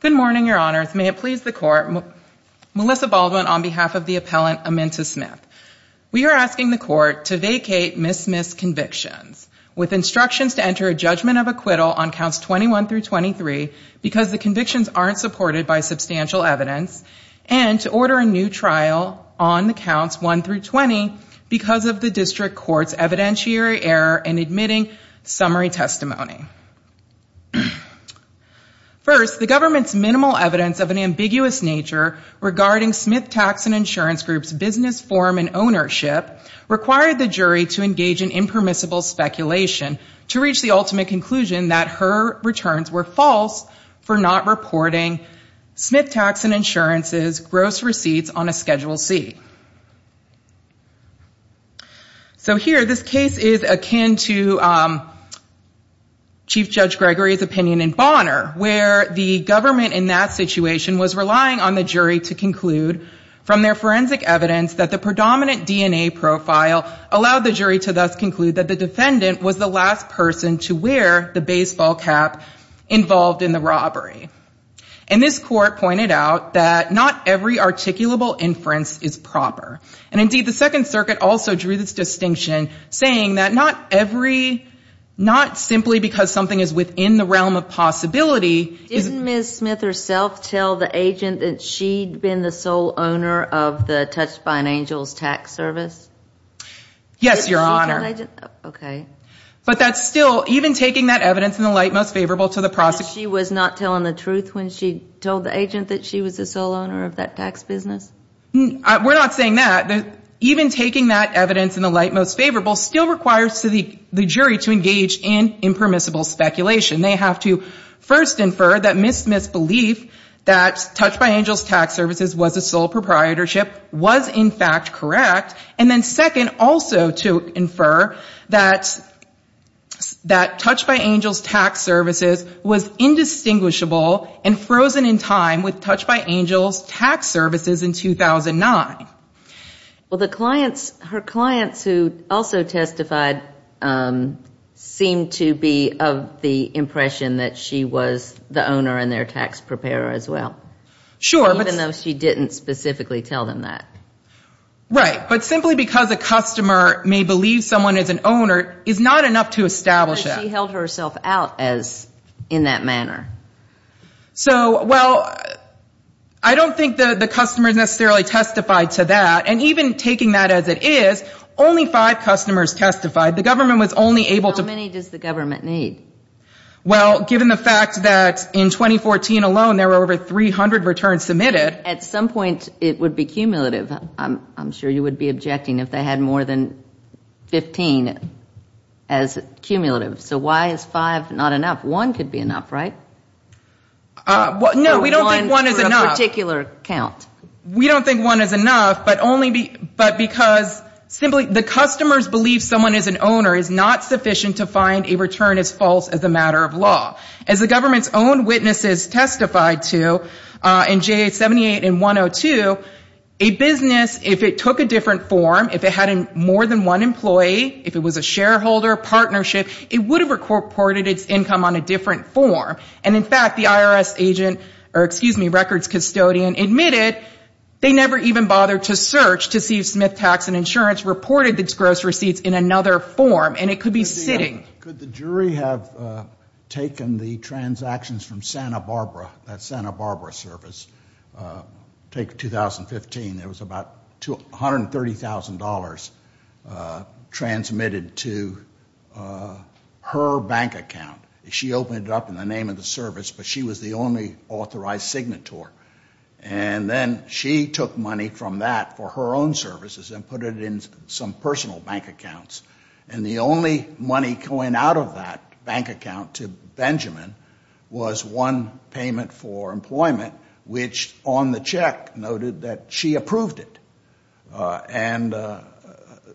Good morning, Your Honors. May it please the Court, Melissa Baldwin on behalf of the Appellant Aminta Smith. We are asking the Court to vacate Miss Smith's convictions with instructions to enter a judgment of acquittal on counts 21 through 23 because the convictions aren't supported by substantial evidence and to order a new trial on the counts 1 through 20 because of the District Court's evidentiary error in admitting summary testimony. First, the government's minimal evidence of an ambiguous nature regarding Smith Tax and Insurance Group's business form and ownership required the jury to engage in impermissible speculation to reach the ultimate conclusion that her returns were false for not reporting Smith Tax and Insurance's gross receipts on a Schedule C. So here, this case is akin to Chief Judge Gregory's opinion in Bonner, where the government in that situation was relying on the jury to conclude from their forensic evidence that the predominant DNA profile allowed the jury to thus conclude that the defendant was the last person to wear the baseball cap involved in the robbery. And this Court pointed out that not every articulable inference is proper. And indeed, the Second Circuit also drew this distinction saying that not every, not simply because something is within the realm of possibility Didn't Miss Smith herself tell the agent that she'd been the sole owner of the Touched by an Angel's tax service? Yes, Your Honor. But that's still, even taking that evidence in the light most favorable to the prosecution She was not telling the truth when she told the agent that she was the sole owner of that tax business? We're not saying that. Even taking that evidence in the light most favorable still requires the jury to engage in impermissible speculation. They have to first infer that Miss Smith's belief that Touched by Angel's tax services was a sole proprietorship was in fact correct and then second also to infer that Touched by Angel's tax services was indistinguishable and frozen in time with Touched by Angel's tax services in 2009. Well, the clients, her clients who also testified seemed to be of the impression that she was the owner and their tax preparer as well. Sure. Even though she didn't specifically tell them that. Right. But simply because a customer may believe someone is an owner is not enough to establish that. But she held herself out in that manner. So, well, I don't think the customers necessarily testified to that. And even taking that as it is, only five customers testified. The government was only able to How many does the government need? Well, given the fact that in 2014 alone there were over 300 returns submitted At some point it would be cumulative. I'm sure you would be objecting if they had more than 15 as cumulative. So why is five not enough? One could be enough, right? No, we don't think one is enough. For a particular count. We don't think one is enough, but because simply the customers believe someone is an owner is not sufficient to find a return as false as a matter of law. As the government's own witnesses testified to in JA 78 and 102, a business, if it took a different form, if it had more than one employee, if it was a shareholder, partnership, it would have reported its income on a different form. And, in fact, the IRS agent or, excuse me, records custodian admitted they never even bothered to search to see if Smith Tax and Insurance reported its gross receipts in another form. And it could be sitting. Could the jury have taken the transactions from Santa Barbara, that Santa Barbara service? Take 2015. There was about $130,000 transmitted to her bank account. She opened it up in the name of the service, but she was the only authorized signator. And then she took money from that for her own services and put it in some personal bank accounts. And the only money going out of that bank account to Benjamin was one payment for employment, which on the check noted that she approved it. And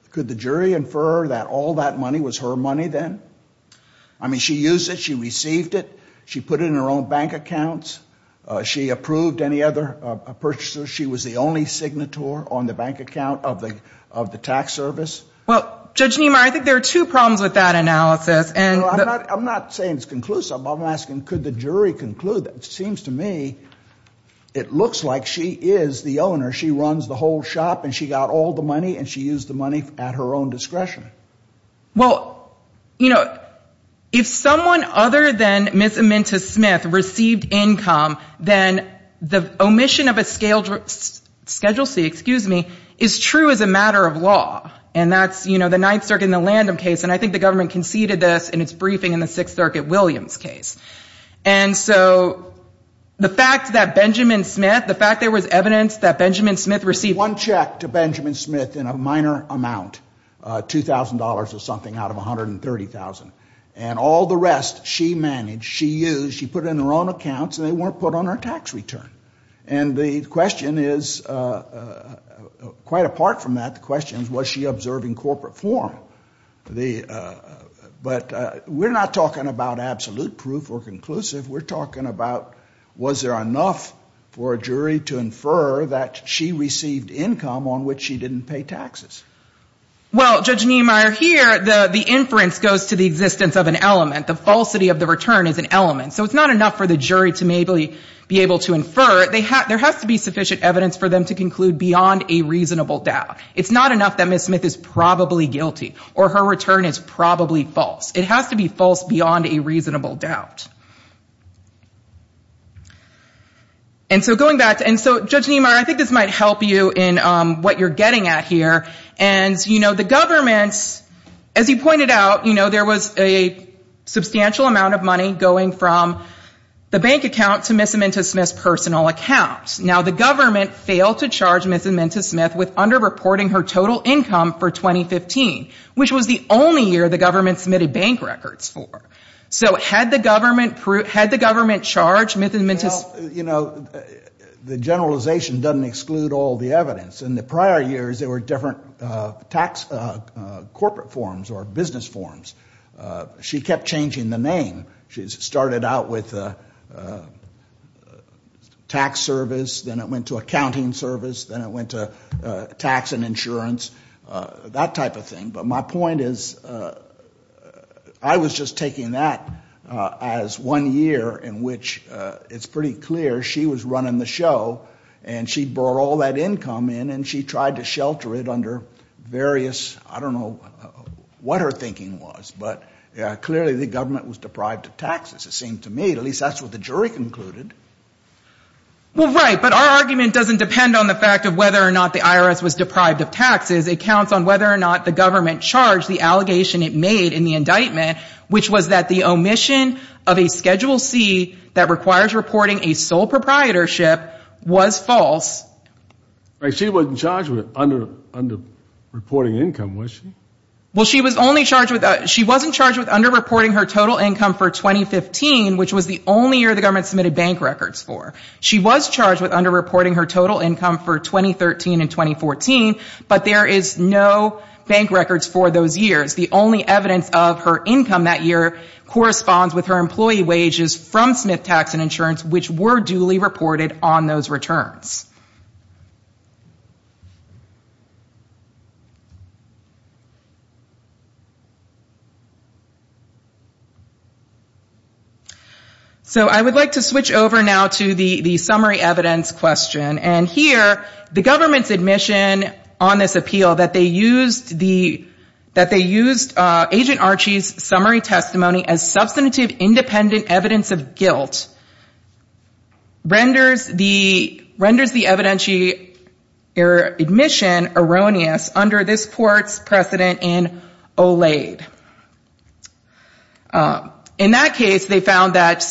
could the jury infer that all that money was her money then? I mean, she used it. She received it. She put it in her own bank accounts. She approved any other purchasers. She was the only signator on the bank account of the tax service. Well, Judge Niemeyer, I think there are two problems with that analysis. No, I'm not saying it's conclusive. I'm asking could the jury conclude that? It seems to me it looks like she is the owner. She runs the whole shop and she got all the money and she used the money at her own discretion. Well, you know, if someone other than Ms. Aminta Smith received income, then the omission of a Schedule C is true as a matter of law. And that's, you know, the Ninth Circuit in the Lanham case, and I think the government conceded this in its briefing in the Sixth Circuit Williams case. And so the fact that Benjamin Smith, the fact there was evidence that Benjamin Smith received one check to Benjamin Smith in a minor amount, $2,000 or something out of $130,000, and all the rest she managed, she used, she put it in her own accounts and they weren't put on her tax return. And the question is, quite apart from that, the question is was she observing corporate form? But we're not talking about absolute proof or conclusive. We're talking about was there enough for a jury to infer that she received income on which she didn't pay taxes? Well, Judge Niemeyer, here the inference goes to the existence of an element. The falsity of the return is an element. So it's not enough for the jury to maybe be able to infer. There has to be sufficient evidence for them to conclude beyond a reasonable doubt. It's not enough that Ms. Smith is probably guilty or her return is probably false. It has to be false beyond a reasonable doubt. And so going back, and so Judge Niemeyer, I think this might help you in what you're getting at here. And, you know, the government, as you pointed out, you know, there was a substantial amount of money going from the bank account to Ms. Amento-Smith's personal account. Now, the government failed to charge Ms. Amento-Smith with underreporting her total income for 2015, which was the only year the government submitted bank records for. So had the government charged Ms. Amento-Smith? Well, you know, the generalization doesn't exclude all the evidence. In the prior years, there were different tax corporate forms or business forms. She kept changing the name. She started out with tax service, then it went to accounting service, then it went to tax and insurance, that type of thing. But my point is, I was just taking that as one year in which it's pretty clear that the government didn't charge Ms. Amento-Smith. It was pretty clear she was running the show, and she brought all that income in, and she tried to shelter it under various, I don't know what her thinking was. But clearly the government was deprived of taxes, it seemed to me. At least that's what the jury concluded. Well, right. But our argument doesn't depend on the fact of whether or not the IRS was deprived of taxes. It counts on whether or not the government charged the allegation it made in the indictment, which was that the omission of a Schedule C that requires reporting a certain amount of money, which is sole proprietorship, was false. She wasn't charged with underreporting income, was she? Well, she wasn't charged with underreporting her total income for 2015, which was the only year the government submitted bank records for. She was charged with underreporting her total income for 2013 and 2014, but there is no bank records for those years. The only evidence of her income that year corresponds with her employee wages from Smith Tax and Insurance, which were duly reported on those returns. So I would like to switch over now to the summary evidence question. And here, the government's admission on this appeal that they used Agent Archie's summary testimony as substantive independent evidence of guilt renders the admission erroneous under this court's precedent in OLAID. In that case, they found that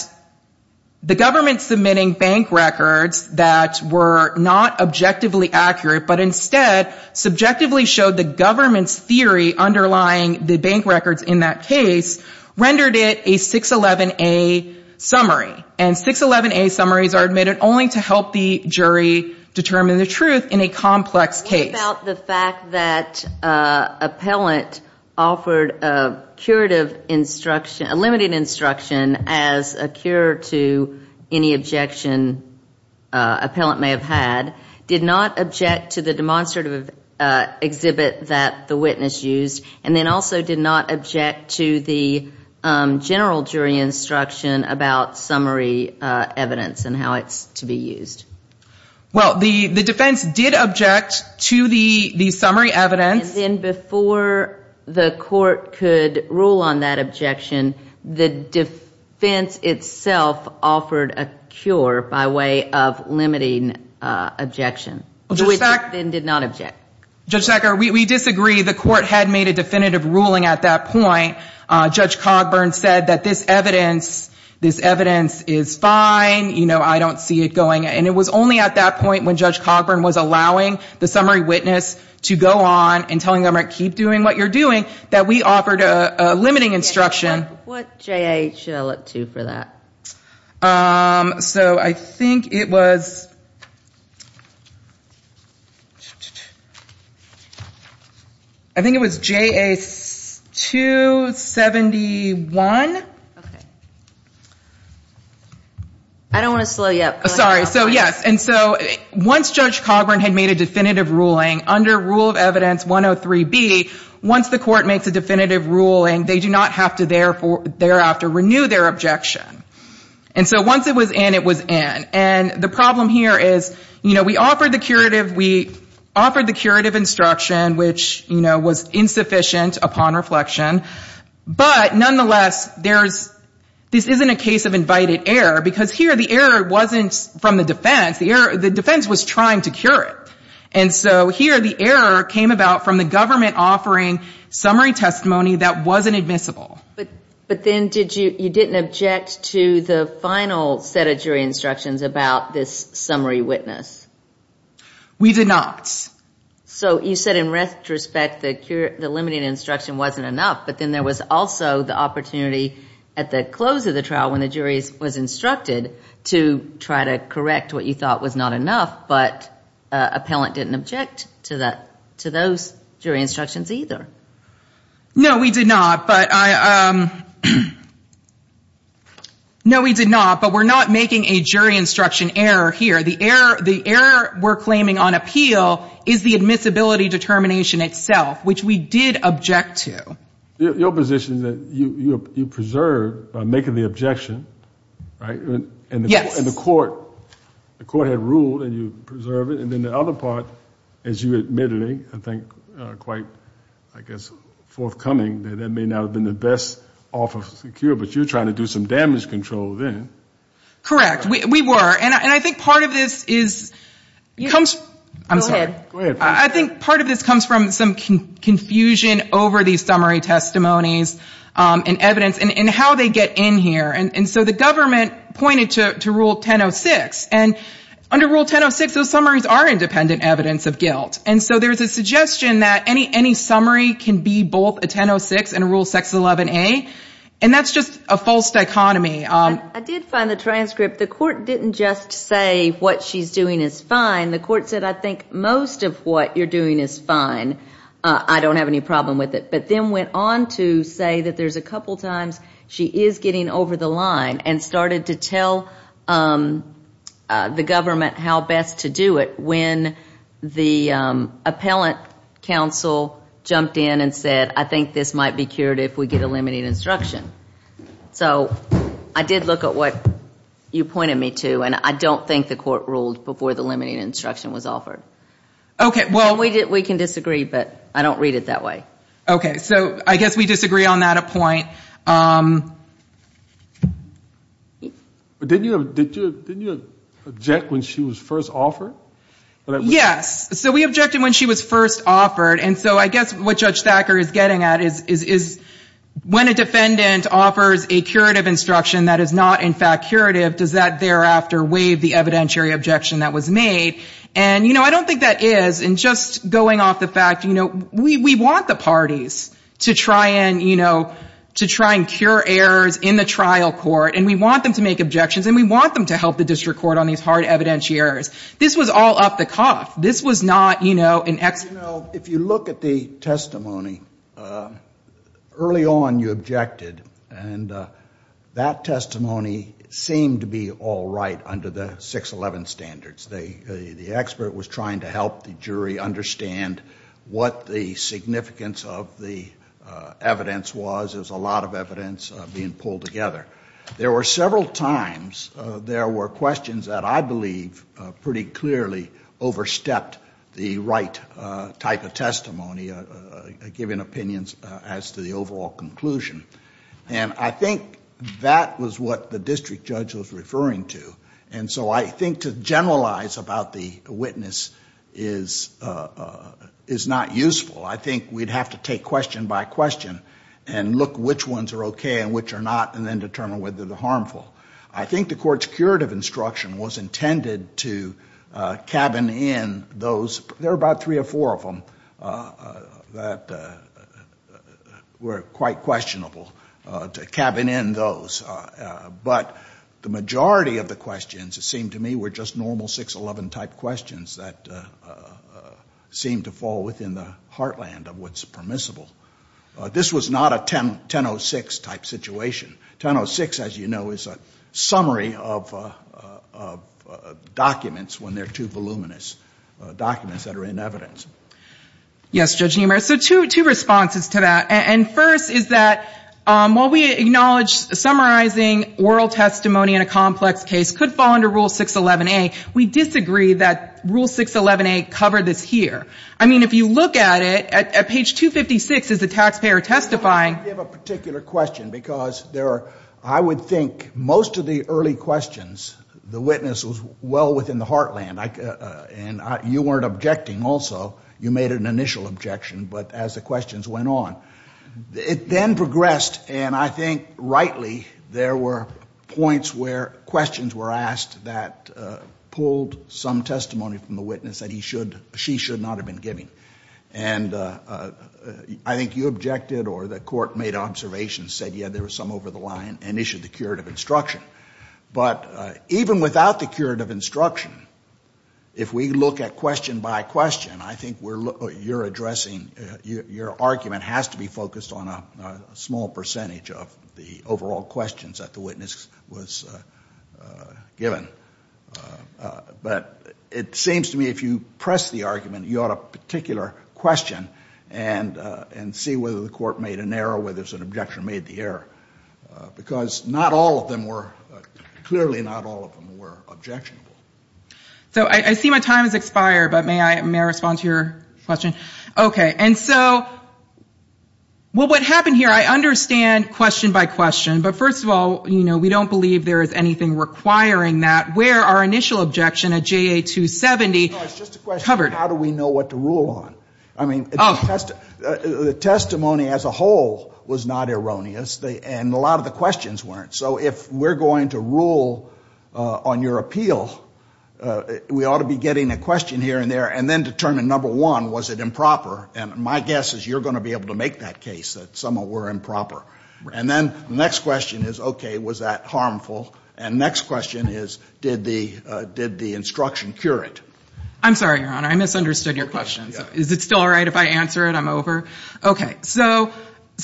the government submitting bank records that were not objectively accurate, but instead subjectively showed the government's theory underlying the bank records in that case, rendered it a 611A summary. And 611A summaries are admitted only to help the jury determine the truth in a complex case. What about the fact that appellant offered a curative instruction, a limited instruction as a cure to any objection appellant may have had, did not object to the demonstrative exhibit that the witness used, and then also did not object to the general jury instruction about summary evidence and how it's to be used? Well, the defense did object to the summary evidence. And then before the court could rule on that objection, the defense itself offered a cure by way of limiting objection, which it then did not object. Judge Sacker, we disagree. The court had made a definitive ruling at that point. Judge Cogburn said that this evidence is fine. You know, I don't see it going, and it was only at that point when Judge Cogburn was allowing the summary witness to go on and telling them, all right, keep doing what you're doing, that we offered a limiting instruction. What J.A. should I look to for that? I think it was J.A. 271. I don't want to slow you up. Sorry. So, yes. And so once Judge Cogburn had made a definitive ruling under Rule of Evidence 103B, once the court makes a definitive ruling, they do not have to thereafter renew their objection. And so once it was in, it was in. And the problem here is, you know, we offered the curative, we offered the curative instruction, which, you know, was insufficient upon reflection. But nonetheless, there's, this isn't a case of invited error, because here the error wasn't from the defense. The defense was trying to cure it. And so here the error came about from the government offering summary testimony that wasn't admissible. But then did you, you didn't object to the final set of jury instructions about this summary witness? We did not. But then there was also the opportunity at the close of the trial when the jury was instructed to try to correct what you thought was not enough, but appellant didn't object to that, to those jury instructions either. No, we did not. But I, no, we did not. But we're not making a jury instruction error here. The error, the error we're claiming on appeal is the admissibility determination itself, which we did object to. Your position is that you preserved by making the objection, right? Yes. And the court, the court had ruled and you preserved it. And then the other part, as you admittedly, I think, quite, I guess, forthcoming, that that may not have been the best off of secure, but you were trying to do some damage control then. Correct. We were. And I think part of this is, comes, I'm sorry. Go ahead. I think part of this comes from some confusion over these summary testimonies and evidence and how they get in here. And so the government pointed to rule 1006. And under rule 1006, those summaries are independent evidence of guilt. And so there's a suggestion that any summary can be both a 1006 and a rule 611A. And that's just a false dichotomy. I did find the transcript. The court didn't just say what she's doing is fine. The court said, I think, most of what she's doing is fine. I don't have any problem with it. But then went on to say that there's a couple times she is getting over the line and started to tell the government how best to do it when the appellant counsel jumped in and said, I think this might be cured if we get a limiting instruction. So I did look at what you pointed me to. And I don't think the court ruled before the limiting instruction was offered. We can disagree, but I don't read it that way. Okay. So I guess we disagree on that point. Didn't you object when she was first offered? Yes. So we objected when she was first offered. And so I guess what Judge Thacker is getting at is when a defendant offers a curative instruction that is not, in fact, curative, does that thereafter waive the evidentiary objection that was made? And, you know, I don't think that is. And just going off the fact, you know, we want the parties to try and, you know, to try and cure errors in the trial court. And we want them to make objections. And we want them to help the district court on these hard evidentiaries. This was all up the cough. This was not, you know, an excellent... You know, if you look at the testimony, early on you objected. And that testimony seemed to be all right under the 611 standards. The expert was trying to help the jury understand what the significance of the evidence was. There was a lot of evidence being pulled together. There were several times there were questions that I believe pretty clearly overstepped the right type of testimony, giving opinions as to the overall conclusion. And I think that was what the district judge was referring to. And so I think to generalize, you know, I don't think that the district judge was trying to generalize. I think to generalize about the witness is not useful. I think we'd have to take question by question and look which ones are okay and which are not, and then determine whether they're harmful. I think the court's curative instruction was intended to cabin in those. There were about three or four of them that were quite questionable, to cabin in those. But the majority of the questions, it seemed to me, were just normal 611-type questions that seemed to fall within the heartland of what's permissible. This was not a 1006-type situation. 1006, as you know, is a summary of documents when they're too voluminous, documents that are in evidence. Yes, Judge Niemeyer. So two responses to that. And first is that while we acknowledge, summarize the evidence, we acknowledge that there's a lot of evidence. And that summarizing oral testimony in a complex case could fall under Rule 611-A. We disagree that Rule 611-A covered this here. I mean, if you look at it, at page 256 is the taxpayer testifying. I want to give a particular question because there are, I would think, most of the early questions, the witness was well within the heartland. And you weren't objecting also. You made an initial objection. But as the questions went on, it then progressed. And I think, rightly, there were points where questions were asked that pulled some testimony from the witness that he should, she should not have been giving. And I think you objected or the Court made observations, said, yeah, there was some over the line, and issued the curative instruction. But even without the curative instruction, if we look at question by question, I think you're addressing, your argument has to be focused on a small percentage. Of the overall questions that the witness was given. But it seems to me if you press the argument, you ought to particular question and see whether the Court made an error, whether an objection made the error. Because not all of them were, clearly not all of them were objectionable. So I see my time has expired, but may I respond to your question? Okay. And so, well, what happened here, I understand question by question, but first of all, you know, we don't believe there is anything requiring that. Where our initial objection at JA270 covered? No, it's just a question of how do we know what to rule on? I mean, the testimony as a whole was not erroneous, and a lot of the questions weren't. So if we're going to rule on your appeal, we ought to be getting a question here and there, and then determine, number one, was it important? And number two, was it improper? And my guess is you're going to be able to make that case that some of them were improper. And then the next question is, okay, was that harmful? And the next question is, did the instruction cure it? I'm sorry, Your Honor, I misunderstood your question. Is it still all right if I answer it? I'm over? Okay. So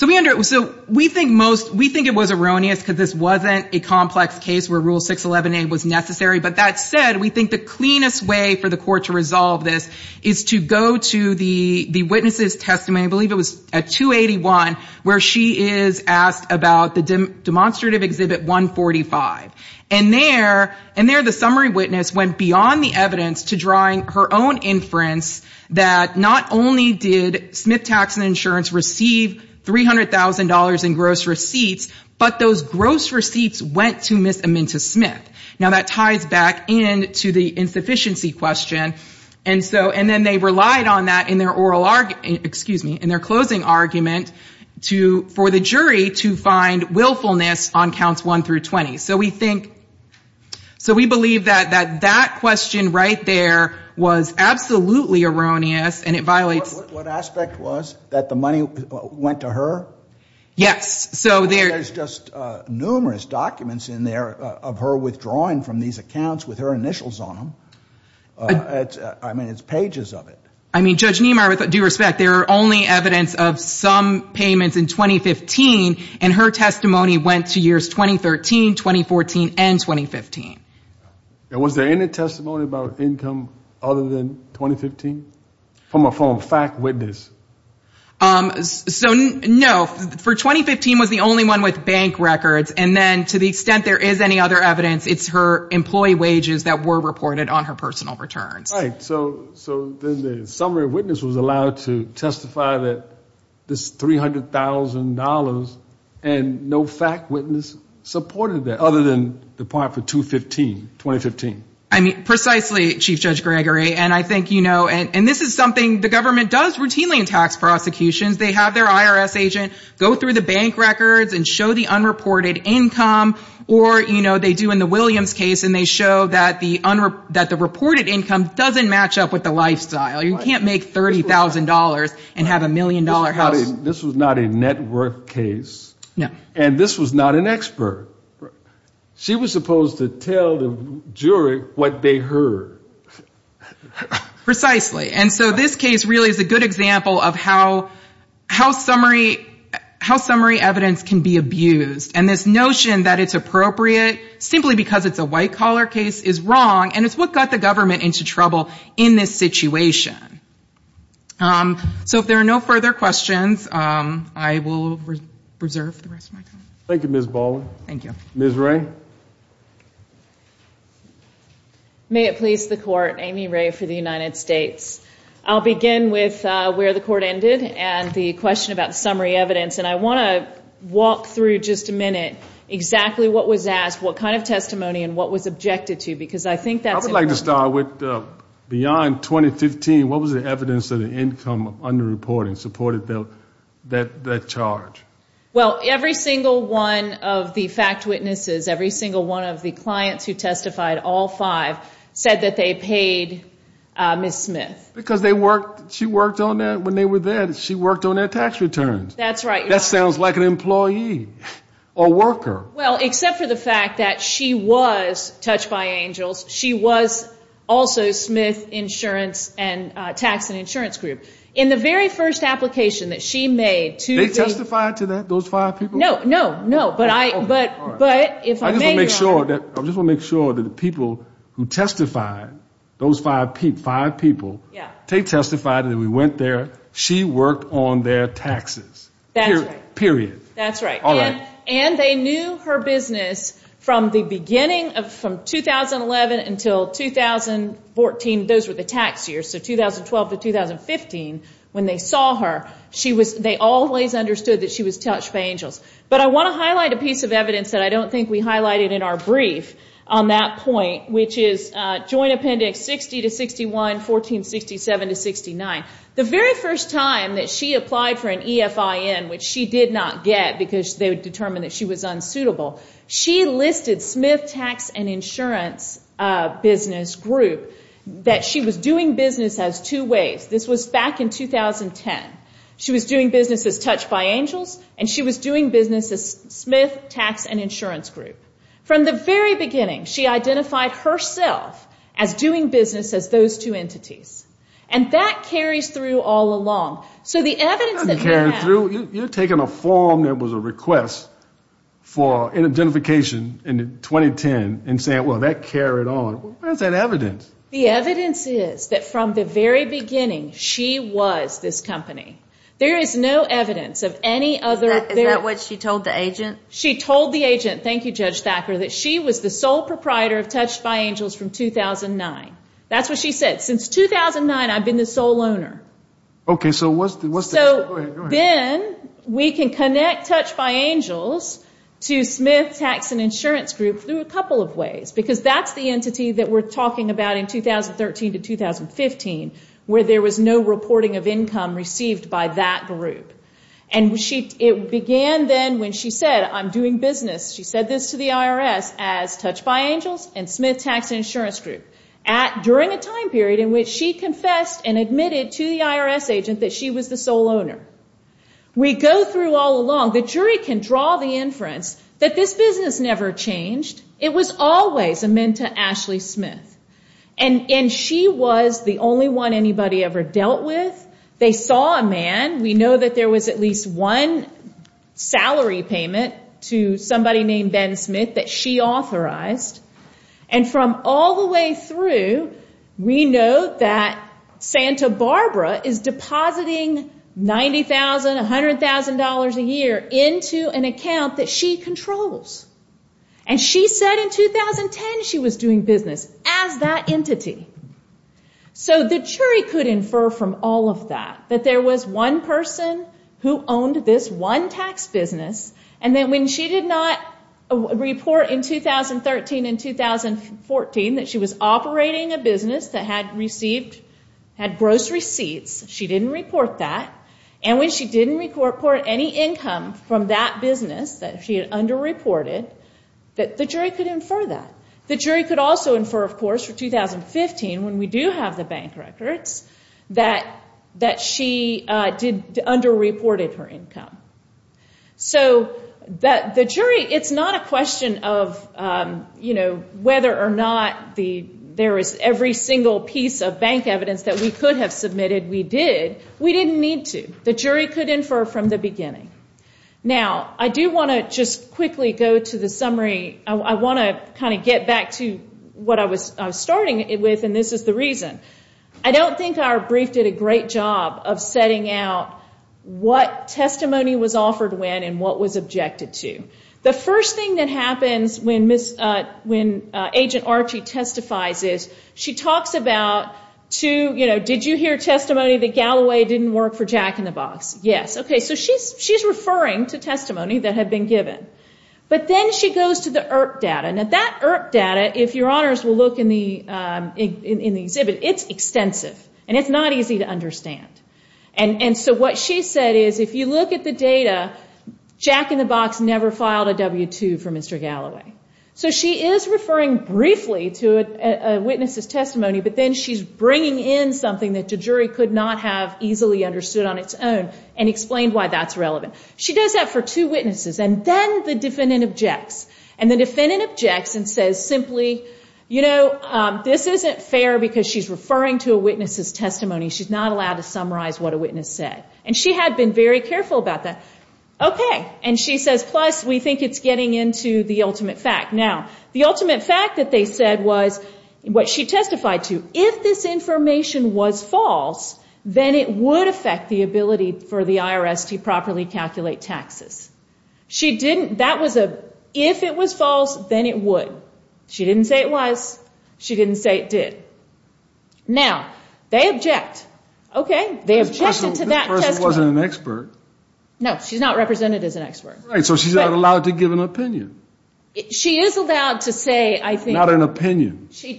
we think most, we think it was erroneous because this wasn't a complex case where Rule 611A was necessary. But that said, we think the cleanest way for the Court to resolve this is to go to the, you know, the Supreme Court. And we went to the witness' testimony, I believe it was at 281, where she is asked about the demonstrative Exhibit 145. And there, the summary witness went beyond the evidence to drawing her own inference that not only did Smith Tax and Insurance receive $300,000 in gross receipts, but those gross receipts went to Ms. Amenta Smith. Now, that ties back in to the insufficiency question. And so, and then they relied on that in their oral testimony. And then they relied on that in their oral argument, excuse me, in their closing argument to, for the jury to find willfulness on Counts 1 through 20. So we think, so we believe that that question right there was absolutely erroneous and it violates. What aspect was? That the money went to her? Yes. So there. There's just numerous documents in there of her withdrawing from these accounts with her initials on them. I mean, it's pages of it. But due respect, there are only evidence of some payments in 2015, and her testimony went to years 2013, 2014, and 2015. And was there any testimony about income other than 2015? From a fact witness? So, no. For 2015 was the only one with bank records. And then to the extent there is any other evidence, it's her employee wages that were reported on her personal returns. Right. So then the summary witness was allowed to testify that this $300,000 and no fact witness supported that, other than the part for 2015. I mean, precisely, Chief Judge Gregory. And I think, you know, and this is something the government does routinely in tax prosecutions. They have their IRS agent go through the bank records and show the unreported income. Or, you know, they do in the Williams case and they show that the reported income doesn't show the unreported income. It doesn't match up with the lifestyle. You can't make $30,000 and have a million-dollar house. This was not a net worth case. And this was not an expert. She was supposed to tell the jury what they heard. Precisely. And so this case really is a good example of how summary evidence can be abused. And this notion that it's appropriate simply because it's a white-collar case is wrong, and it's what got the government into trouble. In this situation. So if there are no further questions, I will reserve the rest of my time. Thank you, Ms. Baldwin. May it please the Court, Amy Ray for the United States. I'll begin with where the Court ended and the question about summary evidence. And I want to walk through just a minute exactly what was asked, what kind of testimony, and what was objected to. I would like to start with beyond 2015, what was the evidence of the income underreporting supported that charge? Well, every single one of the fact witnesses, every single one of the clients who testified, all five, said that they paid Ms. Smith. Because she worked on that when they were there. She worked on their tax returns. That sounds like an employee or worker. Well, except for the fact that she was Touched by Angels. She was also Smith Insurance and Tax and Insurance Group. In the very first application that she made to the... They testified to that, those five people? No, no, no. But if I may... I just want to make sure that the people who testified, those five people, they testified and we went there. She worked on their taxes. That's right. When they saw her business from the beginning, from 2011 until 2014, those were the tax years, so 2012 to 2015, when they saw her, they always understood that she was Touched by Angels. But I want to highlight a piece of evidence that I don't think we highlighted in our brief on that point, which is Joint Appendix 60 to 61, 1467 to 69. The very first time that she applied for an EFIN, which she did not get because they determined that she was unsuitable, she was not eligible for that. She listed Smith Tax and Insurance Business Group, that she was doing business as two ways. This was back in 2010. She was doing business as Touched by Angels, and she was doing business as Smith Tax and Insurance Group. From the very beginning, she identified herself as doing business as those two entities. And that carries through all along. You're taking a form that was a request for identification in 2010 and saying, well, that carried on. Where's that evidence? The evidence is that from the very beginning, she was this company. There is no evidence of any other. Is that what she told the agent? She told the agent, thank you, Judge Thacker, that she was the sole proprietor of Touched by Angels from 2009. That's what she said. Since 2009, I've been the sole owner. So then we can connect Touched by Angels to Smith Tax and Insurance Group through a couple of ways. Because that's the entity that we're talking about in 2013 to 2015, where there was no reporting of income received by that group. And it began then when she said, I'm doing business, she said this to the IRS as Touched by Angels and Smith Tax and Insurance Group. During a time period in which she confessed and admitted to the IRS agent that she was the sole owner. We go through all along. The jury can draw the inference that this business never changed. It was always amend to Ashley Smith. And she was the only one anybody ever dealt with. They saw a man. We know that there was at least one salary payment to somebody named Ben Smith that she authorized. And from all the way through, we know that Santa Barbara is depositing $90,000, $100,000 a year into an account that she controls. And she said in 2010 she was doing business as that entity. So the jury could infer from all of that that there was one person who owned this one tax business. And then when she did not report in 2013 and 2014 that she was operating a business that had gross receipts, she didn't report that. And when she didn't report any income from that business that she had underreported, the jury could infer that. The jury could also infer, of course, for 2015, when we do have the bank records, that she underreported her income. So the jury, it's not a question of whether or not there is every single piece of bank evidence that we could have submitted. We did. We didn't need to. The jury could infer from the beginning. Now, I do want to just quickly go to the summary. I want to kind of get back to what I was starting with, and this is the reason. I don't think our brief did a great job of setting out what testimony was offered when and what was objected to. The first thing that happens when Agent Archie testifies is she talks about, you know, did you hear testimony that Galloway didn't work for Jack in the Box? Yes. Okay. So she's referring to testimony that had been given. But then she goes to the IRP data. Now, that IRP data, if your honors will look in the exhibit, it's extensive, and it's not easy to understand. And so what she said is, if you look at the data, Jack in the Box never filed a W-2 for Mr. Galloway. So she is referring briefly to a witness's testimony, but then she's bringing in something that the jury could not have easily understood on its own and explained why that's relevant. And then the defendant objects and says simply, you know, this isn't fair because she's referring to a witness's testimony. She's not allowed to summarize what a witness said. And she had been very careful about that. Okay. And she says, plus, we think it's getting into the ultimate fact. Now, the ultimate fact that they said was what she testified to. If this information was false, then it would affect the ability for the IRS to properly calculate taxes. She didn't, that was a, if it was false, then it would. She didn't say it was. She didn't say it did. Now, they object. Okay. They objected to that testimony. Right. So she's not allowed to give an opinion. Not an opinion. So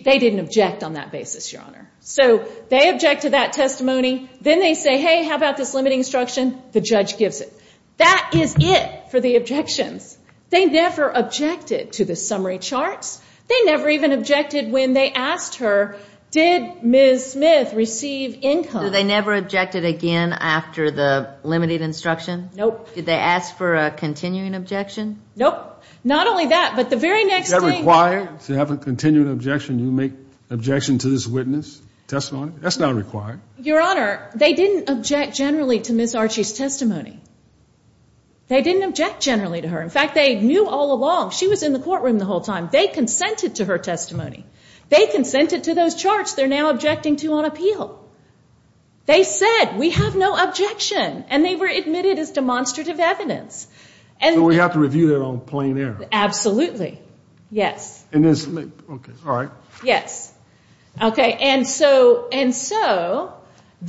they object to that testimony. Then they say, hey, how about this limiting instruction? The judge gives it. That is it for the objections. They never objected to the summary charts. They never even objected when they asked her, did Ms. Smith receive income? Do they never objected again after the limited instruction? Nope. Did they ask for a continuing objection? Nope. Not only that, but the very next day. Is that required to have a continuing objection? You make objection to this witness testimony? That's not required. Your Honor, they didn't object generally to Ms. Archie's testimony. They didn't object generally to her. In fact, they knew all along. She was in the courtroom the whole time. They consented to her testimony. They consented to those charts they're now objecting to on appeal. They said, we have no objection. And they were admitted as demonstrative evidence. So we have to review that on plain air? Absolutely. Yes. Okay. All right. Yes. Okay.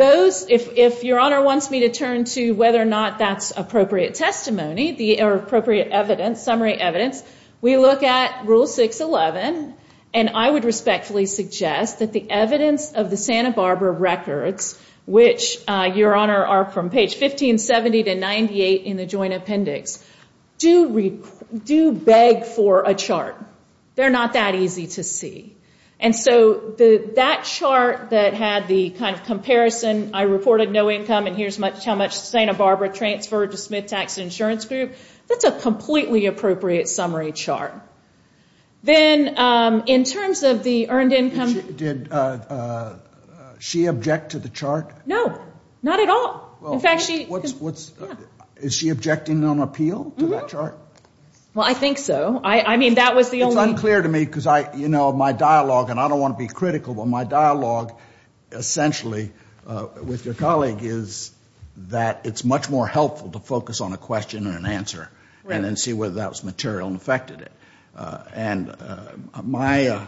If Your Honor wants me to turn to whether or not that's appropriate testimony, or appropriate evidence, summary evidence, we look at Rule 611. And I would respectfully suggest that the evidence of the Santa Barbara records, which, Your Honor, are from page 1570 to 98 in the Joint Appendix, do beg for a chart. They're not that easy to see. And so that chart that had the kind of comparison, I reported no income and here's how much Santa Barbara transferred to Smith Tax Insurance Group, that's a completely appropriate summary chart. Then in terms of the earned income... Did she object to the chart? No. Not at all. In fact, she... Is she objecting on appeal to that chart? Well, I think so. I mean, that was the only... It's unclear to me because I, you know, my dialogue, and I don't want to be critical, but my dialogue, essentially, with your colleague is that it's much more helpful to focus on a question and an answer. Right. And then see whether that was material and affected it. And my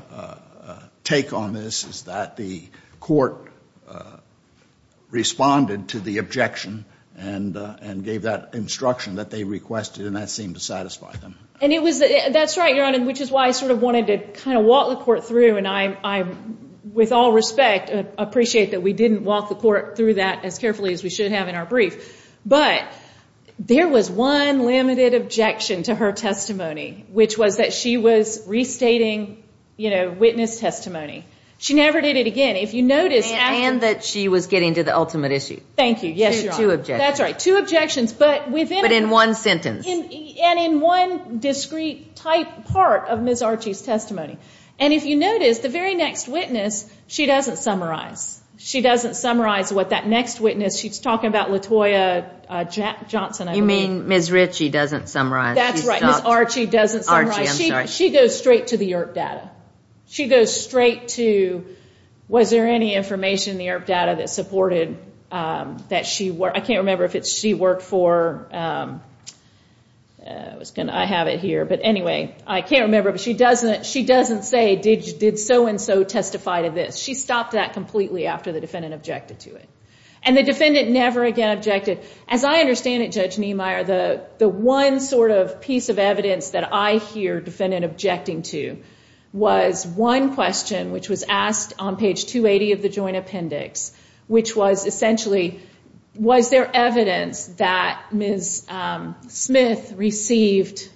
take on this is that the court responded to the objection and gave that instruction that they requested, and that seemed to satisfy them. And it was... That's right, Your Honor, which is why I sort of wanted to kind of walk the court through, and I, with all respect, appreciate that we didn't walk the court through that as carefully as we should have in our brief. But there was one limited objection to her testimony, which was that she was restating, you know, witness testimony. She never did it again. If you notice... And that she was getting to the ultimate issue. Thank you. Yes, Your Honor. Two objections. That's right. Two objections, but within... But in one sentence. And in one discrete type part of Ms. Archie's testimony. And if you notice, the very next witness, she doesn't summarize. She doesn't summarize what that next witness... She's talking about LaToya Johnson, I believe. You mean Ms. Ritchie doesn't summarize. That's right. Ms. Archie doesn't summarize. Archie, I'm sorry. She goes straight to the IRP data. She goes straight to... Was there any information in the IRP data that supported that she... I can't remember if it's she worked for... I have it here. But anyway, I can't remember. But she doesn't say, did so-and-so testify to this? She stopped that completely after the defendant objected to it. And the defendant never again objected. As I understand it, Judge Niemeyer, the one sort of piece of evidence that I hear defendant objecting to was one question which was asked on page 280 of the Joint Appendix, which was essentially, was there evidence that Ms. Smith received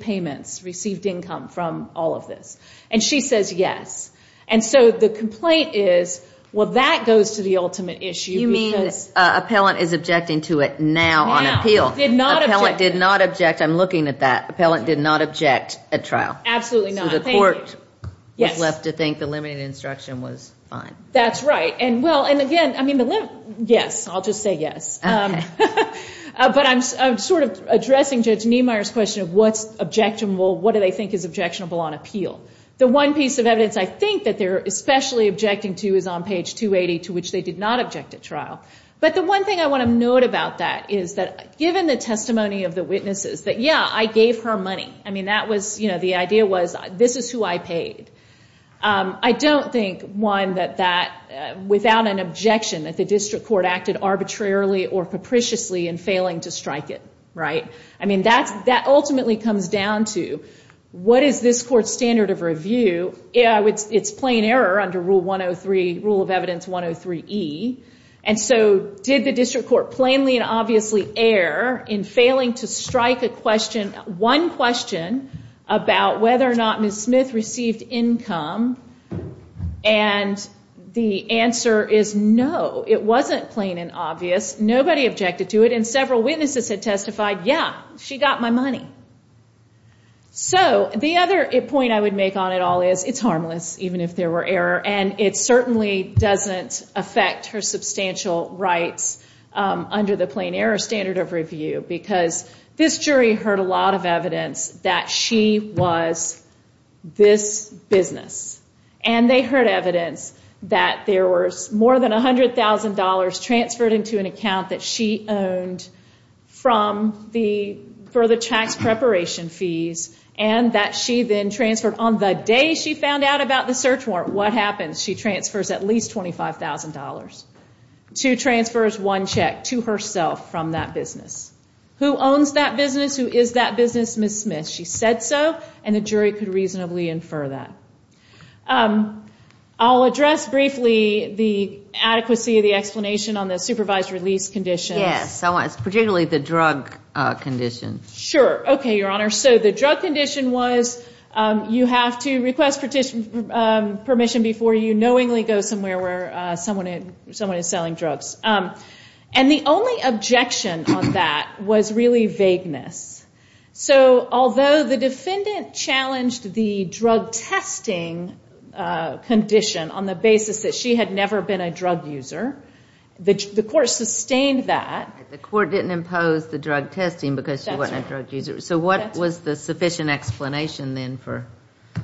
payments, received income from all of this? And she says yes. And so the complaint is, well, that goes to the ultimate issue. You mean appellant is objecting to it now on appeal? Now, did not object. Appellant did not object. I'm looking at that. Appellant did not object at trial. Absolutely not. The court was left to think the limited instruction was fine. That's right. Yes, I'll just say yes. But I'm sort of addressing Judge Niemeyer's question of what's objectionable, what do they think is objectionable on appeal? The one piece of evidence I think that they're especially objecting to is on page 280, to which they did not object at trial. But the one thing I want to note about that is that given the testimony of the witnesses, that yeah, I gave her money. I mean, that was, you know, the idea was this is who I paid. I don't think, one, that that, without an objection, that the district court acted arbitrarily or capriciously in failing to strike it, right? I mean, that ultimately comes down to what is this court's standard of review? It's plain error under Rule of Evidence 103E. And so did the district court plainly and obviously err in failing to strike a question, one question, about whether or not Ms. Smith received income? And the answer is no. It wasn't plain and obvious. Nobody objected to it. And several witnesses had testified, yeah, she got my money. So the other point I would make on it all is it's harmless, even if there were error. And it certainly doesn't affect her substantial rights under the plain error standard of review, because this jury heard a lot of evidence that she was this business. And they heard evidence that there was more than $100,000 transferred into an account that she owned for the tax preparation fees and that she then transferred. On the day she found out about the search warrant, $100,000. Two transfers, one check to herself from that business. Who owns that business? Who is that business? Ms. Smith. She said so. And the jury could reasonably infer that. I'll address briefly the adequacy of the explanation on the supervised release condition. Yes, particularly the drug condition. Sure. Okay, Your Honor. So the drug condition was you have to request permission before you knowingly go somewhere where someone is selling drugs. And the only objection on that was really vagueness. So although the defendant challenged the drug testing condition on the basis that she had never been a drug user, the court sustained that. The court didn't impose the drug testing because she wasn't a drug user. So what was the sufficient explanation then for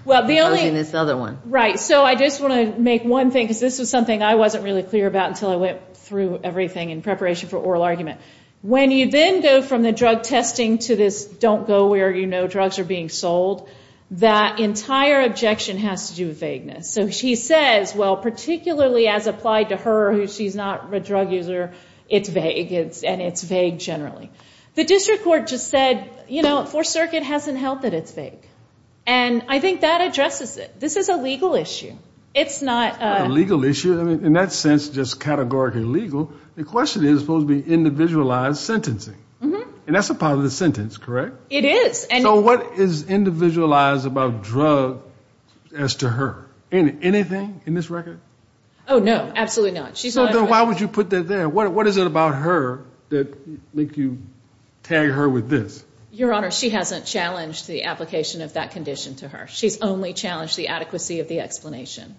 imposing this other one? Right. So I just want to make one thing, because this was something I wasn't really clear about until I went through everything in preparation for oral argument. When you then go from the drug testing to this don't go where you know drugs are being sold, that entire objection has to do with vagueness. So she says, well, particularly as applied to her, who she's not a drug user, it's vague and it's vague generally. The district court just said, you know, Fourth Circuit hasn't held that it's vague. And I think that addresses it. This is a legal issue. It's not a legal issue? I mean, in that sense, just categorically legal, the question is supposed to be individualized sentencing. And that's a positive sentence, correct? It is. So what is individualized about drug as to her? Anything in this record? Oh, no, absolutely not. Why would you put that there? What is it about her that make you tag her with this? Your Honor, she hasn't challenged the application of that condition to her. She's only challenged the adequacy of the explanation.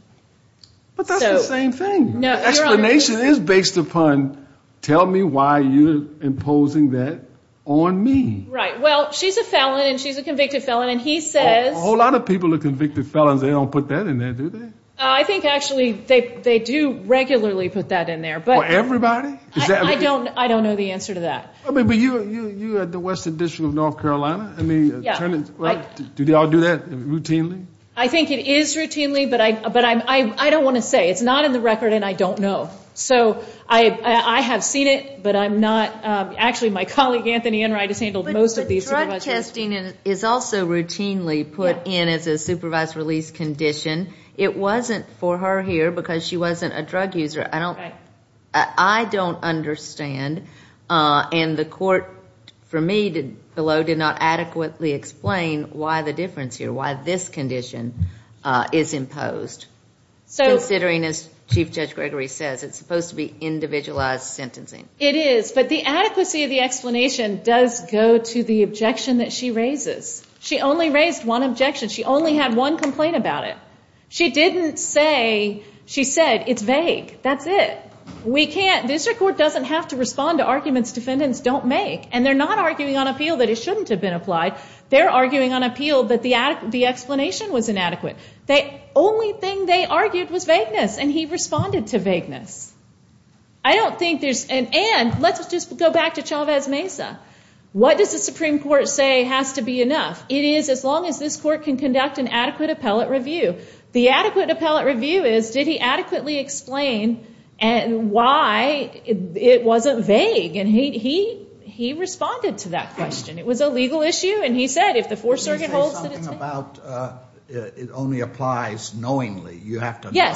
But that's the same thing. The explanation is based upon tell me why you're imposing that on me. Right. Well, she's a felon and she's a convicted felon. And he says... A whole lot of people are convicted felons. They don't put that in there, do they? I think actually they do regularly put that in there. For everybody? I don't know the answer to that. But you're at the Western District of North Carolina? Do they all do that routinely? I think it is routinely, but I don't want to say. It's not in the record and I don't know. So I have seen it, but I'm not... Actually, my colleague Anthony Enright has handled most of these. But drug testing is also routinely put in as a supervised release condition. It wasn't for her here because she wasn't a drug user. I don't understand. And the court for me below did not adequately explain why the difference here, why this condition is imposed. Considering, as Chief Judge Gregory says, it's supposed to be individualized sentencing. It is, but the adequacy of the explanation does go to the objection that she raises. She only raised one objection. She only had one complaint about it. She didn't say, she said, it's vague. That's it. This court doesn't have to respond to arguments defendants don't make. And they're not arguing on appeal that it shouldn't have been applied. They're arguing on appeal that the explanation was inadequate. The only thing they argued was vagueness, and he responded to vagueness. I don't think there's... And let's just go back to Chavez Mesa. What does the Supreme Court say has to be enough? It is, as long as this court can conduct an adequate appellate review. The adequate appellate review is, did he adequately explain why it wasn't vague? And he responded to that question. It was a legal issue, and he said, if the Fourth Circuit holds that it's... It only applies knowingly. You have to know.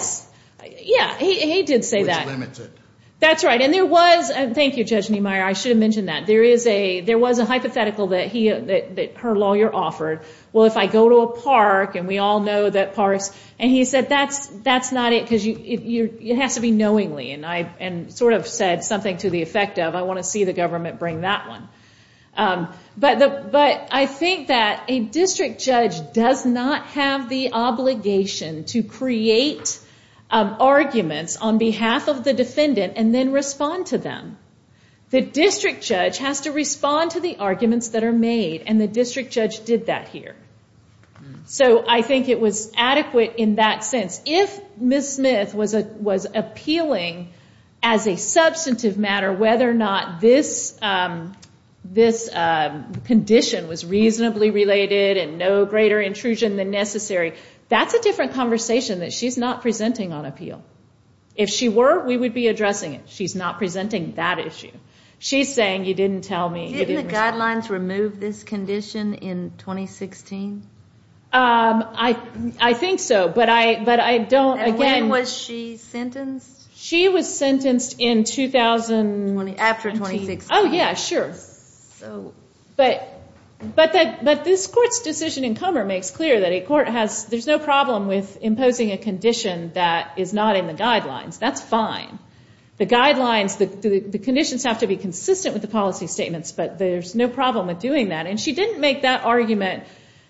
Yeah, he did say that. Which limits it. Thank you, Judge Niemeyer. I should have mentioned that. There was a hypothetical that her lawyer offered. Well, if I go to a park, and we all know that parks... And he said, that's not it, because it has to be knowingly. And sort of said something to the effect of, I want to see the government bring that one. But I think that a district judge does not have the obligation to create arguments on behalf of the defendant and then respond to them. The district judge has to respond to the arguments that are made, and the district judge did that here. So I think it was adequate in that sense. If Ms. Smith was appealing as a substantive matter whether or not this condition was reasonably related and no greater intrusion than necessary, that's a different conversation that she's not presenting on appeal. If she were, we would be addressing it. She's not presenting that issue. She's saying you didn't tell me. Didn't the guidelines remove this condition in 2016? I think so, but I don't... And when was she sentenced? She was sentenced in... After 2016. But this court's decision in Kummer makes clear that a court has... that is not in the guidelines. That's fine. The conditions have to be consistent with the policy statements, but there's no problem with doing that. And she didn't make that argument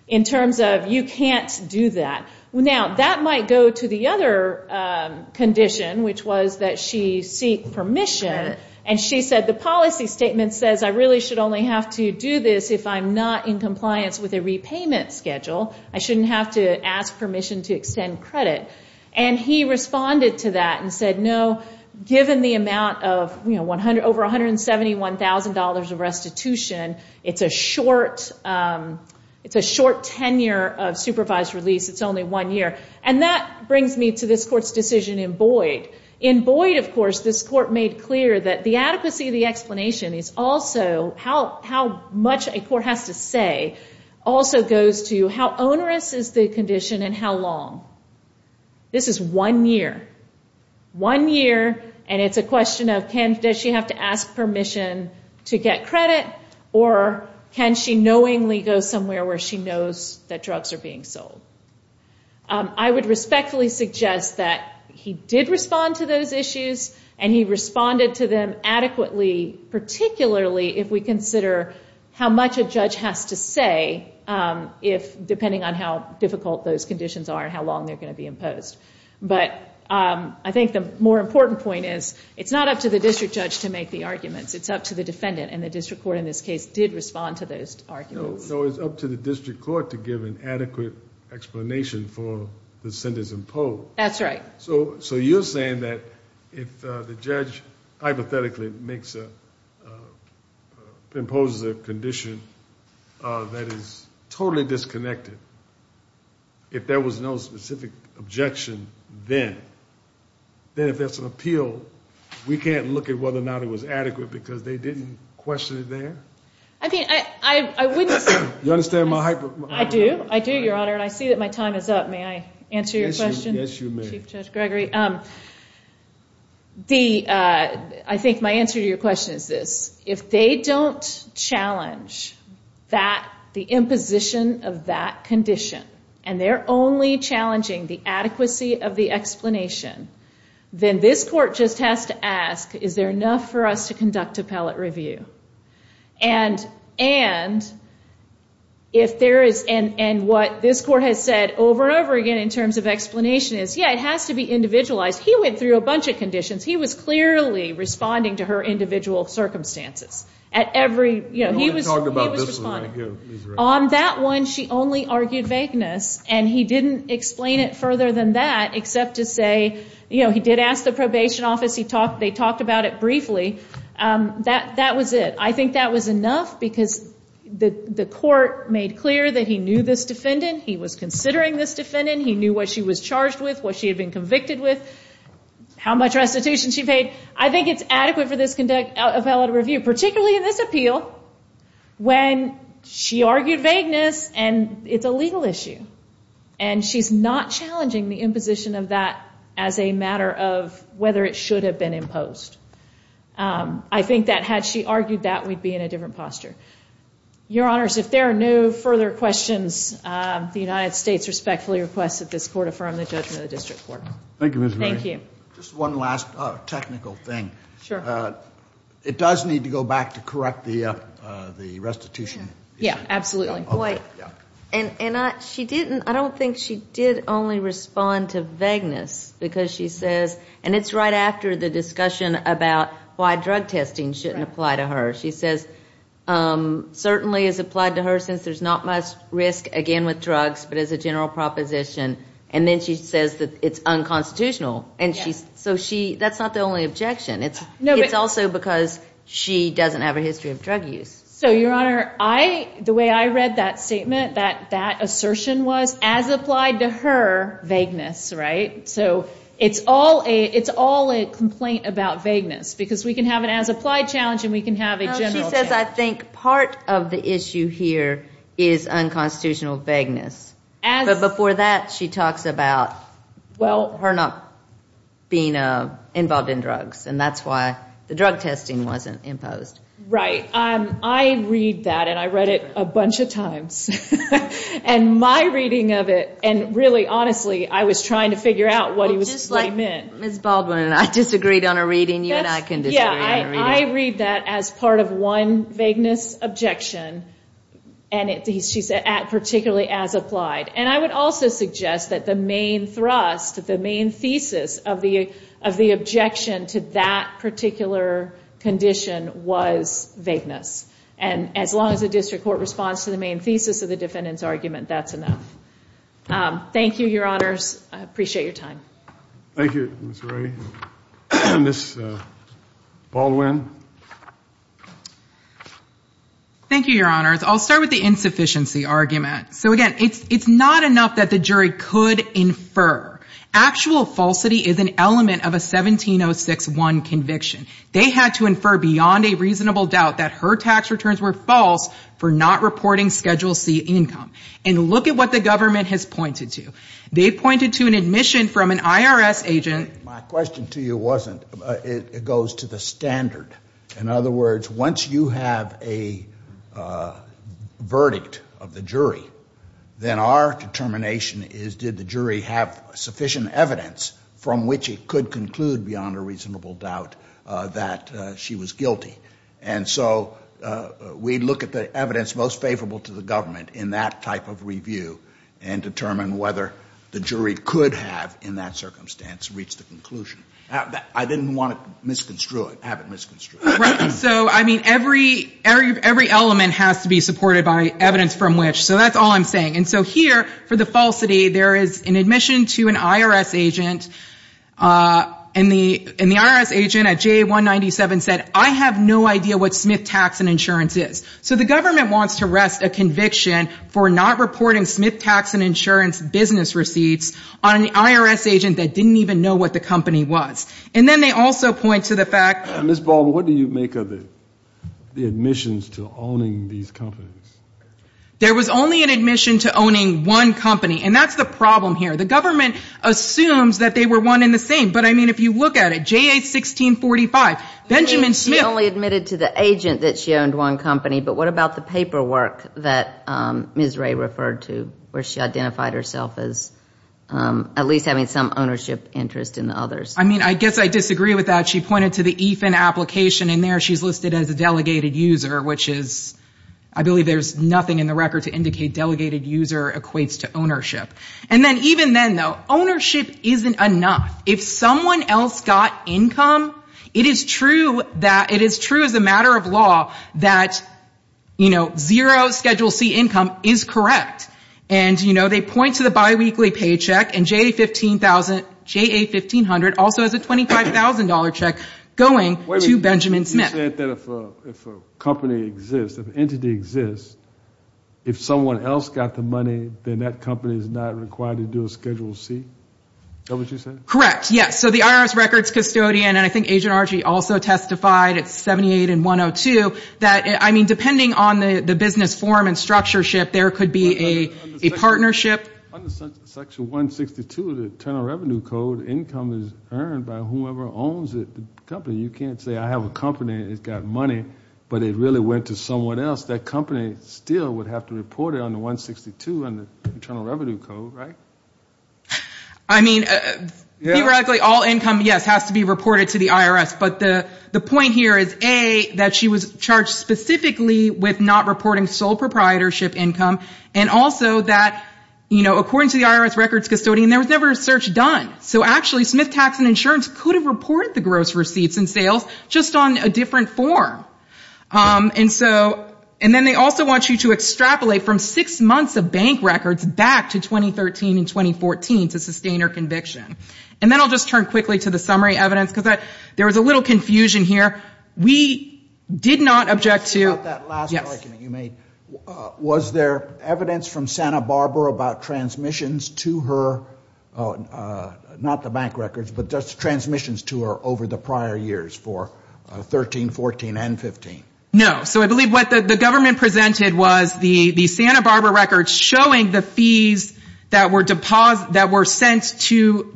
in terms of, you can't do that. Now, that might go to the other condition, which was that she seeked permission. And she said the policy statement says I really should only have to do this if I'm not in compliance with a repayment schedule. I shouldn't have to ask permission to extend credit. And he responded to that and said no, given the amount of over $171,000 of restitution, it's a short tenure of supervised release. It's only one year. And that brings me to this court's decision in Boyd. In Boyd, of course, this court made clear that the adequacy of the explanation is also how much a court has to say also goes to how onerous is the condition and how long. This is one year. One year, and it's a question of does she have to ask permission to get credit, or can she knowingly go somewhere where she knows that drugs are being sold? I would respectfully suggest that he did respond to those issues and he responded to them adequately, particularly if we consider how much a judge has to say depending on how difficult those conditions are and how long they're going to be imposed. But I think the more important point is it's not up to the district judge to make the arguments. It's up to the defendant, and the district court in this case did respond to those arguments. No, it's up to the district court to give an adequate explanation for the sentence imposed. So you're saying that if the judge hypothetically imposes a condition that is totally disconnected, if there was no specific objection then, if there's an appeal, we can't look at whether or not it was adequate because they didn't question it there? I do, Your Honor, and I see that my time is up. May I answer your question, Chief Judge Gregory? I think my answer to your question is this. If they don't challenge the imposition of that condition, then this court just has to ask, is there enough for us to conduct appellate review? And what this court has said over and over again in terms of explanation is, yeah, it has to be individualized. He went through a bunch of conditions. He was clearly responding to her individual circumstances. On that one, she only argued vagueness, and he didn't explain it further than that except to say, he did ask the probation office. They talked about it briefly. That was it. I think that was enough because the court made clear that he knew this defendant. He was considering this defendant. He knew what she was charged with, what she had been convicted with, how much restitution she paid. I think it's adequate for this appellate review, particularly in this appeal, when she argued vagueness, and it's a legal issue. And she's not challenging the imposition of that as a matter of whether it should have been imposed. I think that had she argued that, we'd be in a different posture. Your Honors, if there are no further questions, the United States respectfully requests that this court affirm the judgment of the District Court. Thank you, Ms. Murray. It does need to go back to correct the restitution. I don't think she did only respond to vagueness, because she says, and it's right after the discussion about why drug testing shouldn't apply to her. She says, certainly it's applied to her since there's not much risk, again, with drugs, but as a general proposition. And then she says that it's unconstitutional. So that's not the only objection. It's also because she doesn't have a history of drug use. So, Your Honor, the way I read that statement, that assertion was, as applied to her, vagueness. It's all a complaint about vagueness, because we can have an as-applied challenge and we can have a general challenge. She says, I think part of the issue here is unconstitutional vagueness. But before that, she talks about her not being involved in drugs. And that's why the drug testing wasn't imposed. Right. I read that, and I read it a bunch of times. And my reading of it, and really, honestly, I was trying to figure out what he meant. Well, just like Ms. Baldwin and I disagreed on a reading, you and I can disagree on a reading. I read that as part of one vagueness objection, and she said, particularly as applied. And I would also suggest that the main thrust, the main thesis of the objection to that particular condition was vagueness. And as long as the district court responds to the main thesis of the defendant's argument, that's enough. Thank you, Your Honors. I appreciate your time. Thank you, Ms. Rae. Ms. Baldwin. Thank you, Your Honors. I'll start with the insufficiency argument. So, again, it's not enough that the jury could infer. Actual falsity is an element of a 17061 conviction. They had to infer beyond a reasonable doubt that her tax returns were false for not reporting Schedule C income. And look at what the government has pointed to. They pointed to an admission from an IRS agent. My question to you wasn't, it goes to the standard. In other words, once you have a verdict of the jury, then our determination is, did the jury have sufficient evidence from which it could conclude beyond a reasonable doubt that she was guilty? And so we look at the evidence most favorable to the government in that type of review and determine whether the jury could have, in that circumstance, reached a conclusion. I didn't want to misconstrue it. Have it misconstrued. Right. So, I mean, every element has to be supported by an admission to an IRS agent. And the IRS agent at JA197 said, I have no idea what Smith Tax and Insurance is. So the government wants to rest a conviction for not reporting Smith Tax and Insurance business receipts on an IRS agent that didn't even know what the company was. And then they also point to the fact Ms. Baldwin, what do you make of the admissions to owning these companies? There was only an admission to owning one company. And that's the problem here. The government assumes that they were one and the same. But, I mean, if you look at it, JA1645, Benjamin Smith. She only admitted to the agent that she owned one company. But what about the paperwork that Ms. Ray referred to where she identified herself as at least having some ownership interest in the others? I mean, I guess I disagree with that. She pointed to the EFIN application and there she's listed as a delegated user, which is, I believe there's nothing in the record to indicate delegated user equates to ownership. And then even then, though, ownership isn't enough. If someone else got income, it is true that, it is true as a matter of law that, you know, zero Schedule C income is correct. And, you know, they point to the biweekly paycheck and JA1500 also has a $25,000 check going to Benjamin Smith. You said that if a company exists, if an entity exists, if someone else got the money, then that company is not required to do a Schedule C? Is that what you said? Correct. Yes. So the IRS records custodian, and I think Agent Archie also testified at 78 and 102, that, I mean, depending on the business form and structureship, there could be a partnership. Under Section 162 of the Internal Revenue Code, income is earned by whoever owns the company. You can't say I have a company and it's got money, but it really went to someone else. That company still would have to report it on the 162 in the Internal Revenue Code, right? I mean, theoretically, all income, yes, has to be reported to the IRS. But the point here is, A, that she was charged specifically with not reporting sole proprietorship income, and also that, you know, according to the IRS records custodian, there was never a search done. So actually, Smith Tax and Insurance could have reported the gross receipts and sales, just on a different form. And so, and then they also want you to extrapolate from six months of bank records back to 2013 and 2014 to sustain her conviction. And then I'll just turn quickly to the summary evidence, because there was a little confusion here. We did not object to, yes. Was there evidence from Santa Barbara about transmissions to her, not the bank records, but just transmissions to her over the prior years for 13, 14, and 15? No. So I believe what the government presented was the Santa Barbara records showing the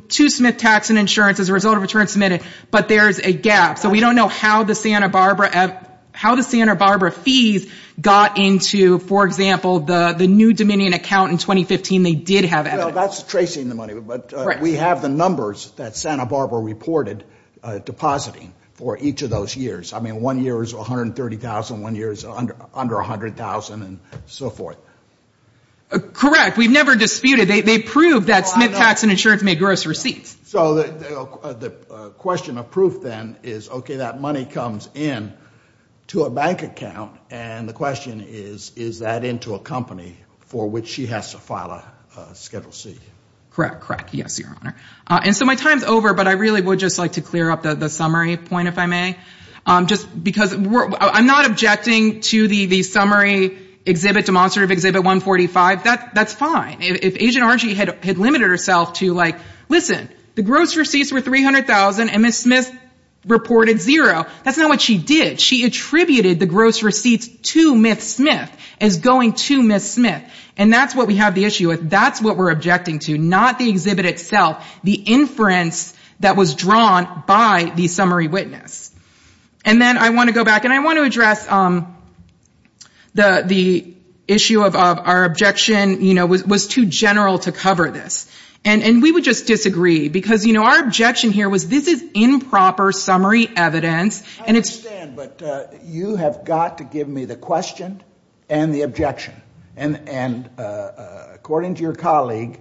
two Smith Tax and Insurance as a result of a return submitted, but there's a gap. So we don't know how the Santa Barbara fees got into, for example, the New Dominion account in 2015. They did have evidence. Well, that's tracing the money, but we have the numbers that Santa Barbara reported depositing for each of those years. I mean, one year is 130,000, one year is under 100,000, and so forth. Correct. We've never disputed. They proved that Smith Tax and Insurance made gross receipts. So the question of proof, then, is, okay, that money comes in to a bank account, and the question is, is that into a company for which she has to file a Schedule C? Correct. Correct. Yes, Your Honor. And so my time's over, but I really would just like to clear up the summary point, if I may. Just because I'm not objecting to the summary exhibit, demonstrative exhibit 145. That's fine. If Agent Archie had limited herself to, like, listen, the gross receipts were 300,000 and Ms. Smith reported zero, that's not what she did. She attributed the gross receipts to Ms. Smith as going to Ms. Smith. And that's what we have the issue with. That's what we're objecting to, not the exhibit itself. The inference that was drawn by the summary witness. And then I want to go back, and I want to address the issue of our objection, you know, was too general to cover this. And we would just disagree, because, you know, our objection here was this is improper summary evidence. I understand, but you have got to give me the question and the objection. And according to your colleague,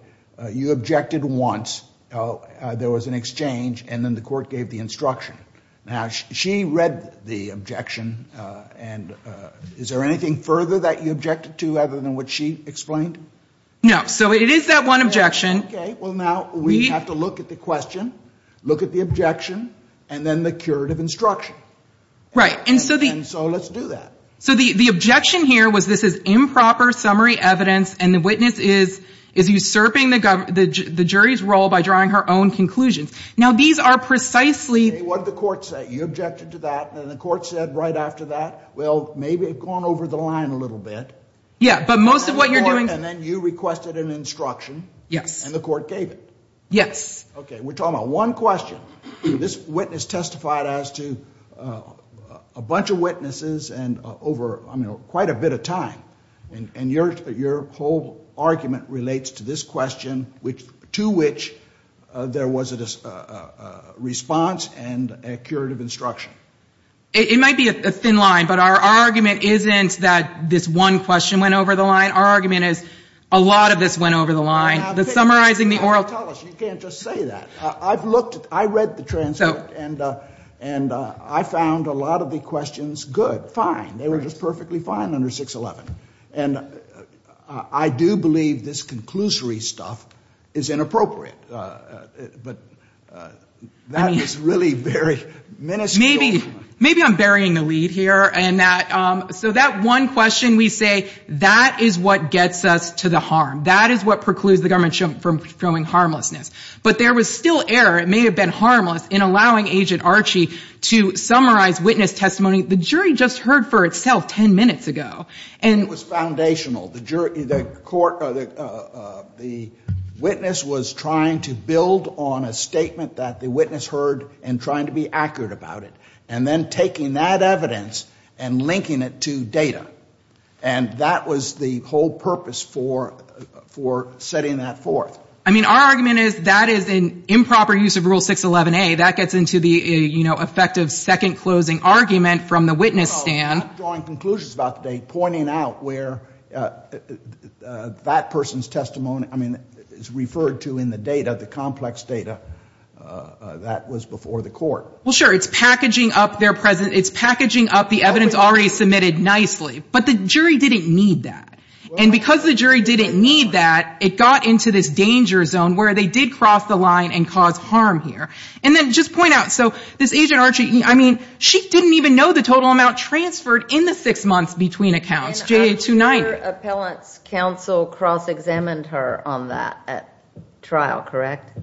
you objected once. There was an exchange, and then the court gave the instruction. Now, she read the objection, and is there anything further that you objected to other than what she explained? No. So it is that one objection. Okay. Well, now we have to look at the question, look at the objection, and then the curative instruction. Right. And so let's do that. So the objection here was this is improper summary evidence, and the witness is usurping the jury's role by drawing her own conclusions. What did the court say? You objected to that, and then the court said right after that, well, maybe it has gone over the line a little bit. And then you requested an instruction, and the court gave it. Yes. Okay. We are talking about one question. This witness testified as to a bunch of witnesses over quite a bit of time. And your whole argument relates to this question, to which there was a response and a curative instruction. It might be a thin line, but our argument isn't that this one question went over the line. Our argument is a lot of this went over the line. You can't just say that. I read the transcript, and I found a lot of the questions good, fine. They were just perfectly fine under 611. And I do believe this conclusory stuff is inappropriate. But that is really very miniscule. Maybe I'm burying the lead here. So that one question we say, that is what gets us to the harm. That is what precludes the government from showing harmlessness. But there was still error. It may have been harmless in allowing Agent Archie to summarize witness testimony. The jury just heard for itself 10 minutes ago. And it was foundational. The witness was trying to build on a statement that the witness heard and trying to be accurate about it. And then taking that evidence and linking it to data. And that was the whole purpose for setting that forth. I mean, our argument is that is an improper use of Rule 611A. That gets into the effective second closing argument from the witness stand. I'm drawing conclusions about the date, pointing out where that person's testimony, I mean, is referred to in the data, the complex data that was before the court. Well, sure. It's packaging up the evidence already submitted nicely. But the jury didn't need that. And because the jury didn't need that, it got into this Agent Archie, I mean, she didn't even know the total amount transferred in the six months between accounts. And her appealant's counsel cross-examined her on that at trial, correct?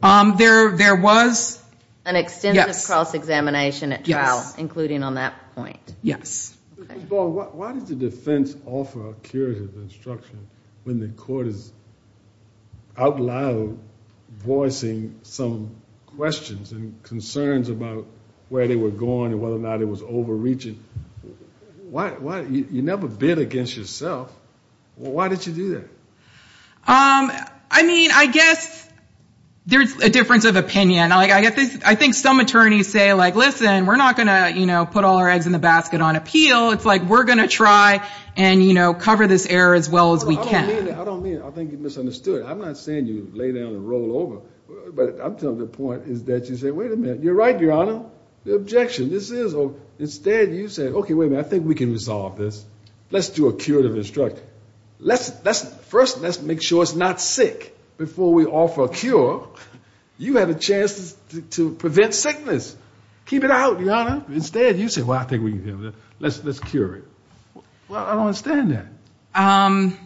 There was an extensive cross-examination at trial, including on that point. Why does the defense offer a curative instruction when the court is out loud voicing some questions and concerns about where they were going and whether or not it was overreaching? You never bid against yourself. Why did you do that? I mean, I guess there's a difference of opinion. I think some attorneys say, like, listen, we're not going to put all our eggs in the basket on appeal. It's like, we're going to try and, you know, cover this error as well as we can. I don't mean that. I think you misunderstood. I'm not saying you lay down and roll over. But I'm telling you the point is that you say, wait a minute. You're right, Your Honor. The objection. Instead, you say, okay, wait a minute, I think we can resolve this. Let's do a curative instruction. First, let's make sure it's not sick before we offer a cure. You have a chance to prevent sickness. Keep it out, Your Honor. Instead, you say, well, I think we can do this. Let's cure it. Well, I don't understand that.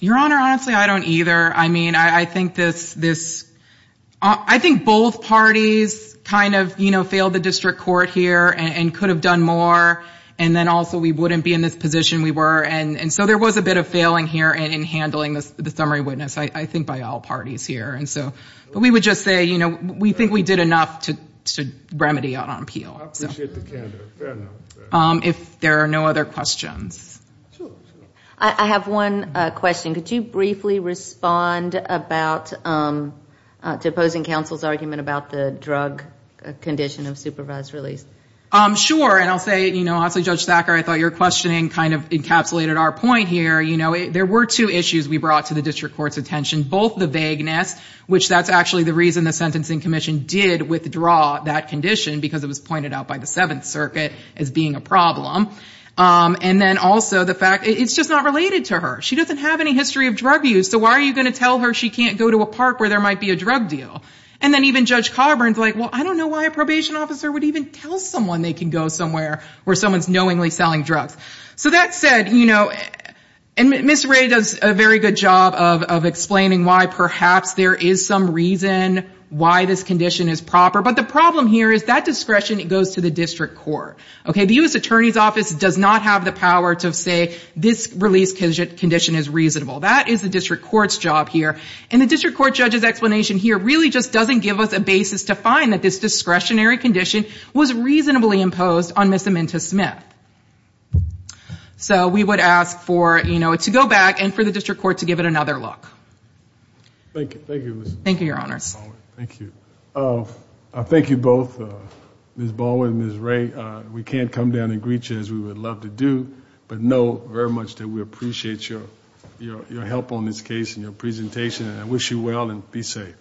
Your Honor, honestly, I don't either. I mean, I think both parties kind of failed the district court here and could have done more, and then also we wouldn't be in this position we were. And so there was a bit of failing here in handling the summary witness, I think by all parties here. But we would just say, you know, we think we did enough to remedy our appeal. I appreciate the candor. Fair enough. I have one question. Could you briefly respond to opposing counsel's argument about the drug condition of supervised release? Sure. And I'll say, you know, also, Judge Thacker, I thought your questioning kind of encapsulated our point here. You know, there were two issues we brought to the district court's attention, both the vagueness, which that's actually the reason the Sentencing Commission did withdraw that condition, because it was pointed out by the Seventh Circuit as being a problem, and then also the fact it's just not related to her. She doesn't have any history of drug use, so why are you going to tell her she can't go to a park where there might be a drug deal? And then even Judge Coburn's like, well, I don't know why a probation officer would even tell someone they can go somewhere where someone's knowingly selling drugs. So that said, you know, and Ms. Ray does a very good job of explaining why perhaps there is some reason why this condition is proper. But the problem here is that discretion goes to the district court. The U.S. Attorney's Office does not have the power to say this release condition is reasonable. That is the district court's job here, and the district court judge's explanation here really just doesn't give us a basis to find that this discretionary condition was reasonably imposed on Ms. Amenta-Smith. So we would ask for, you know, to go back and for the district court to give it another look. Thank you. Thank you, Ms. Baldwin. I thank you both, Ms. Baldwin and Ms. Ray. We can't come down and greet you as we would love to do, but know very much that we appreciate your help on this case and your presentation. And I wish you well and be safe.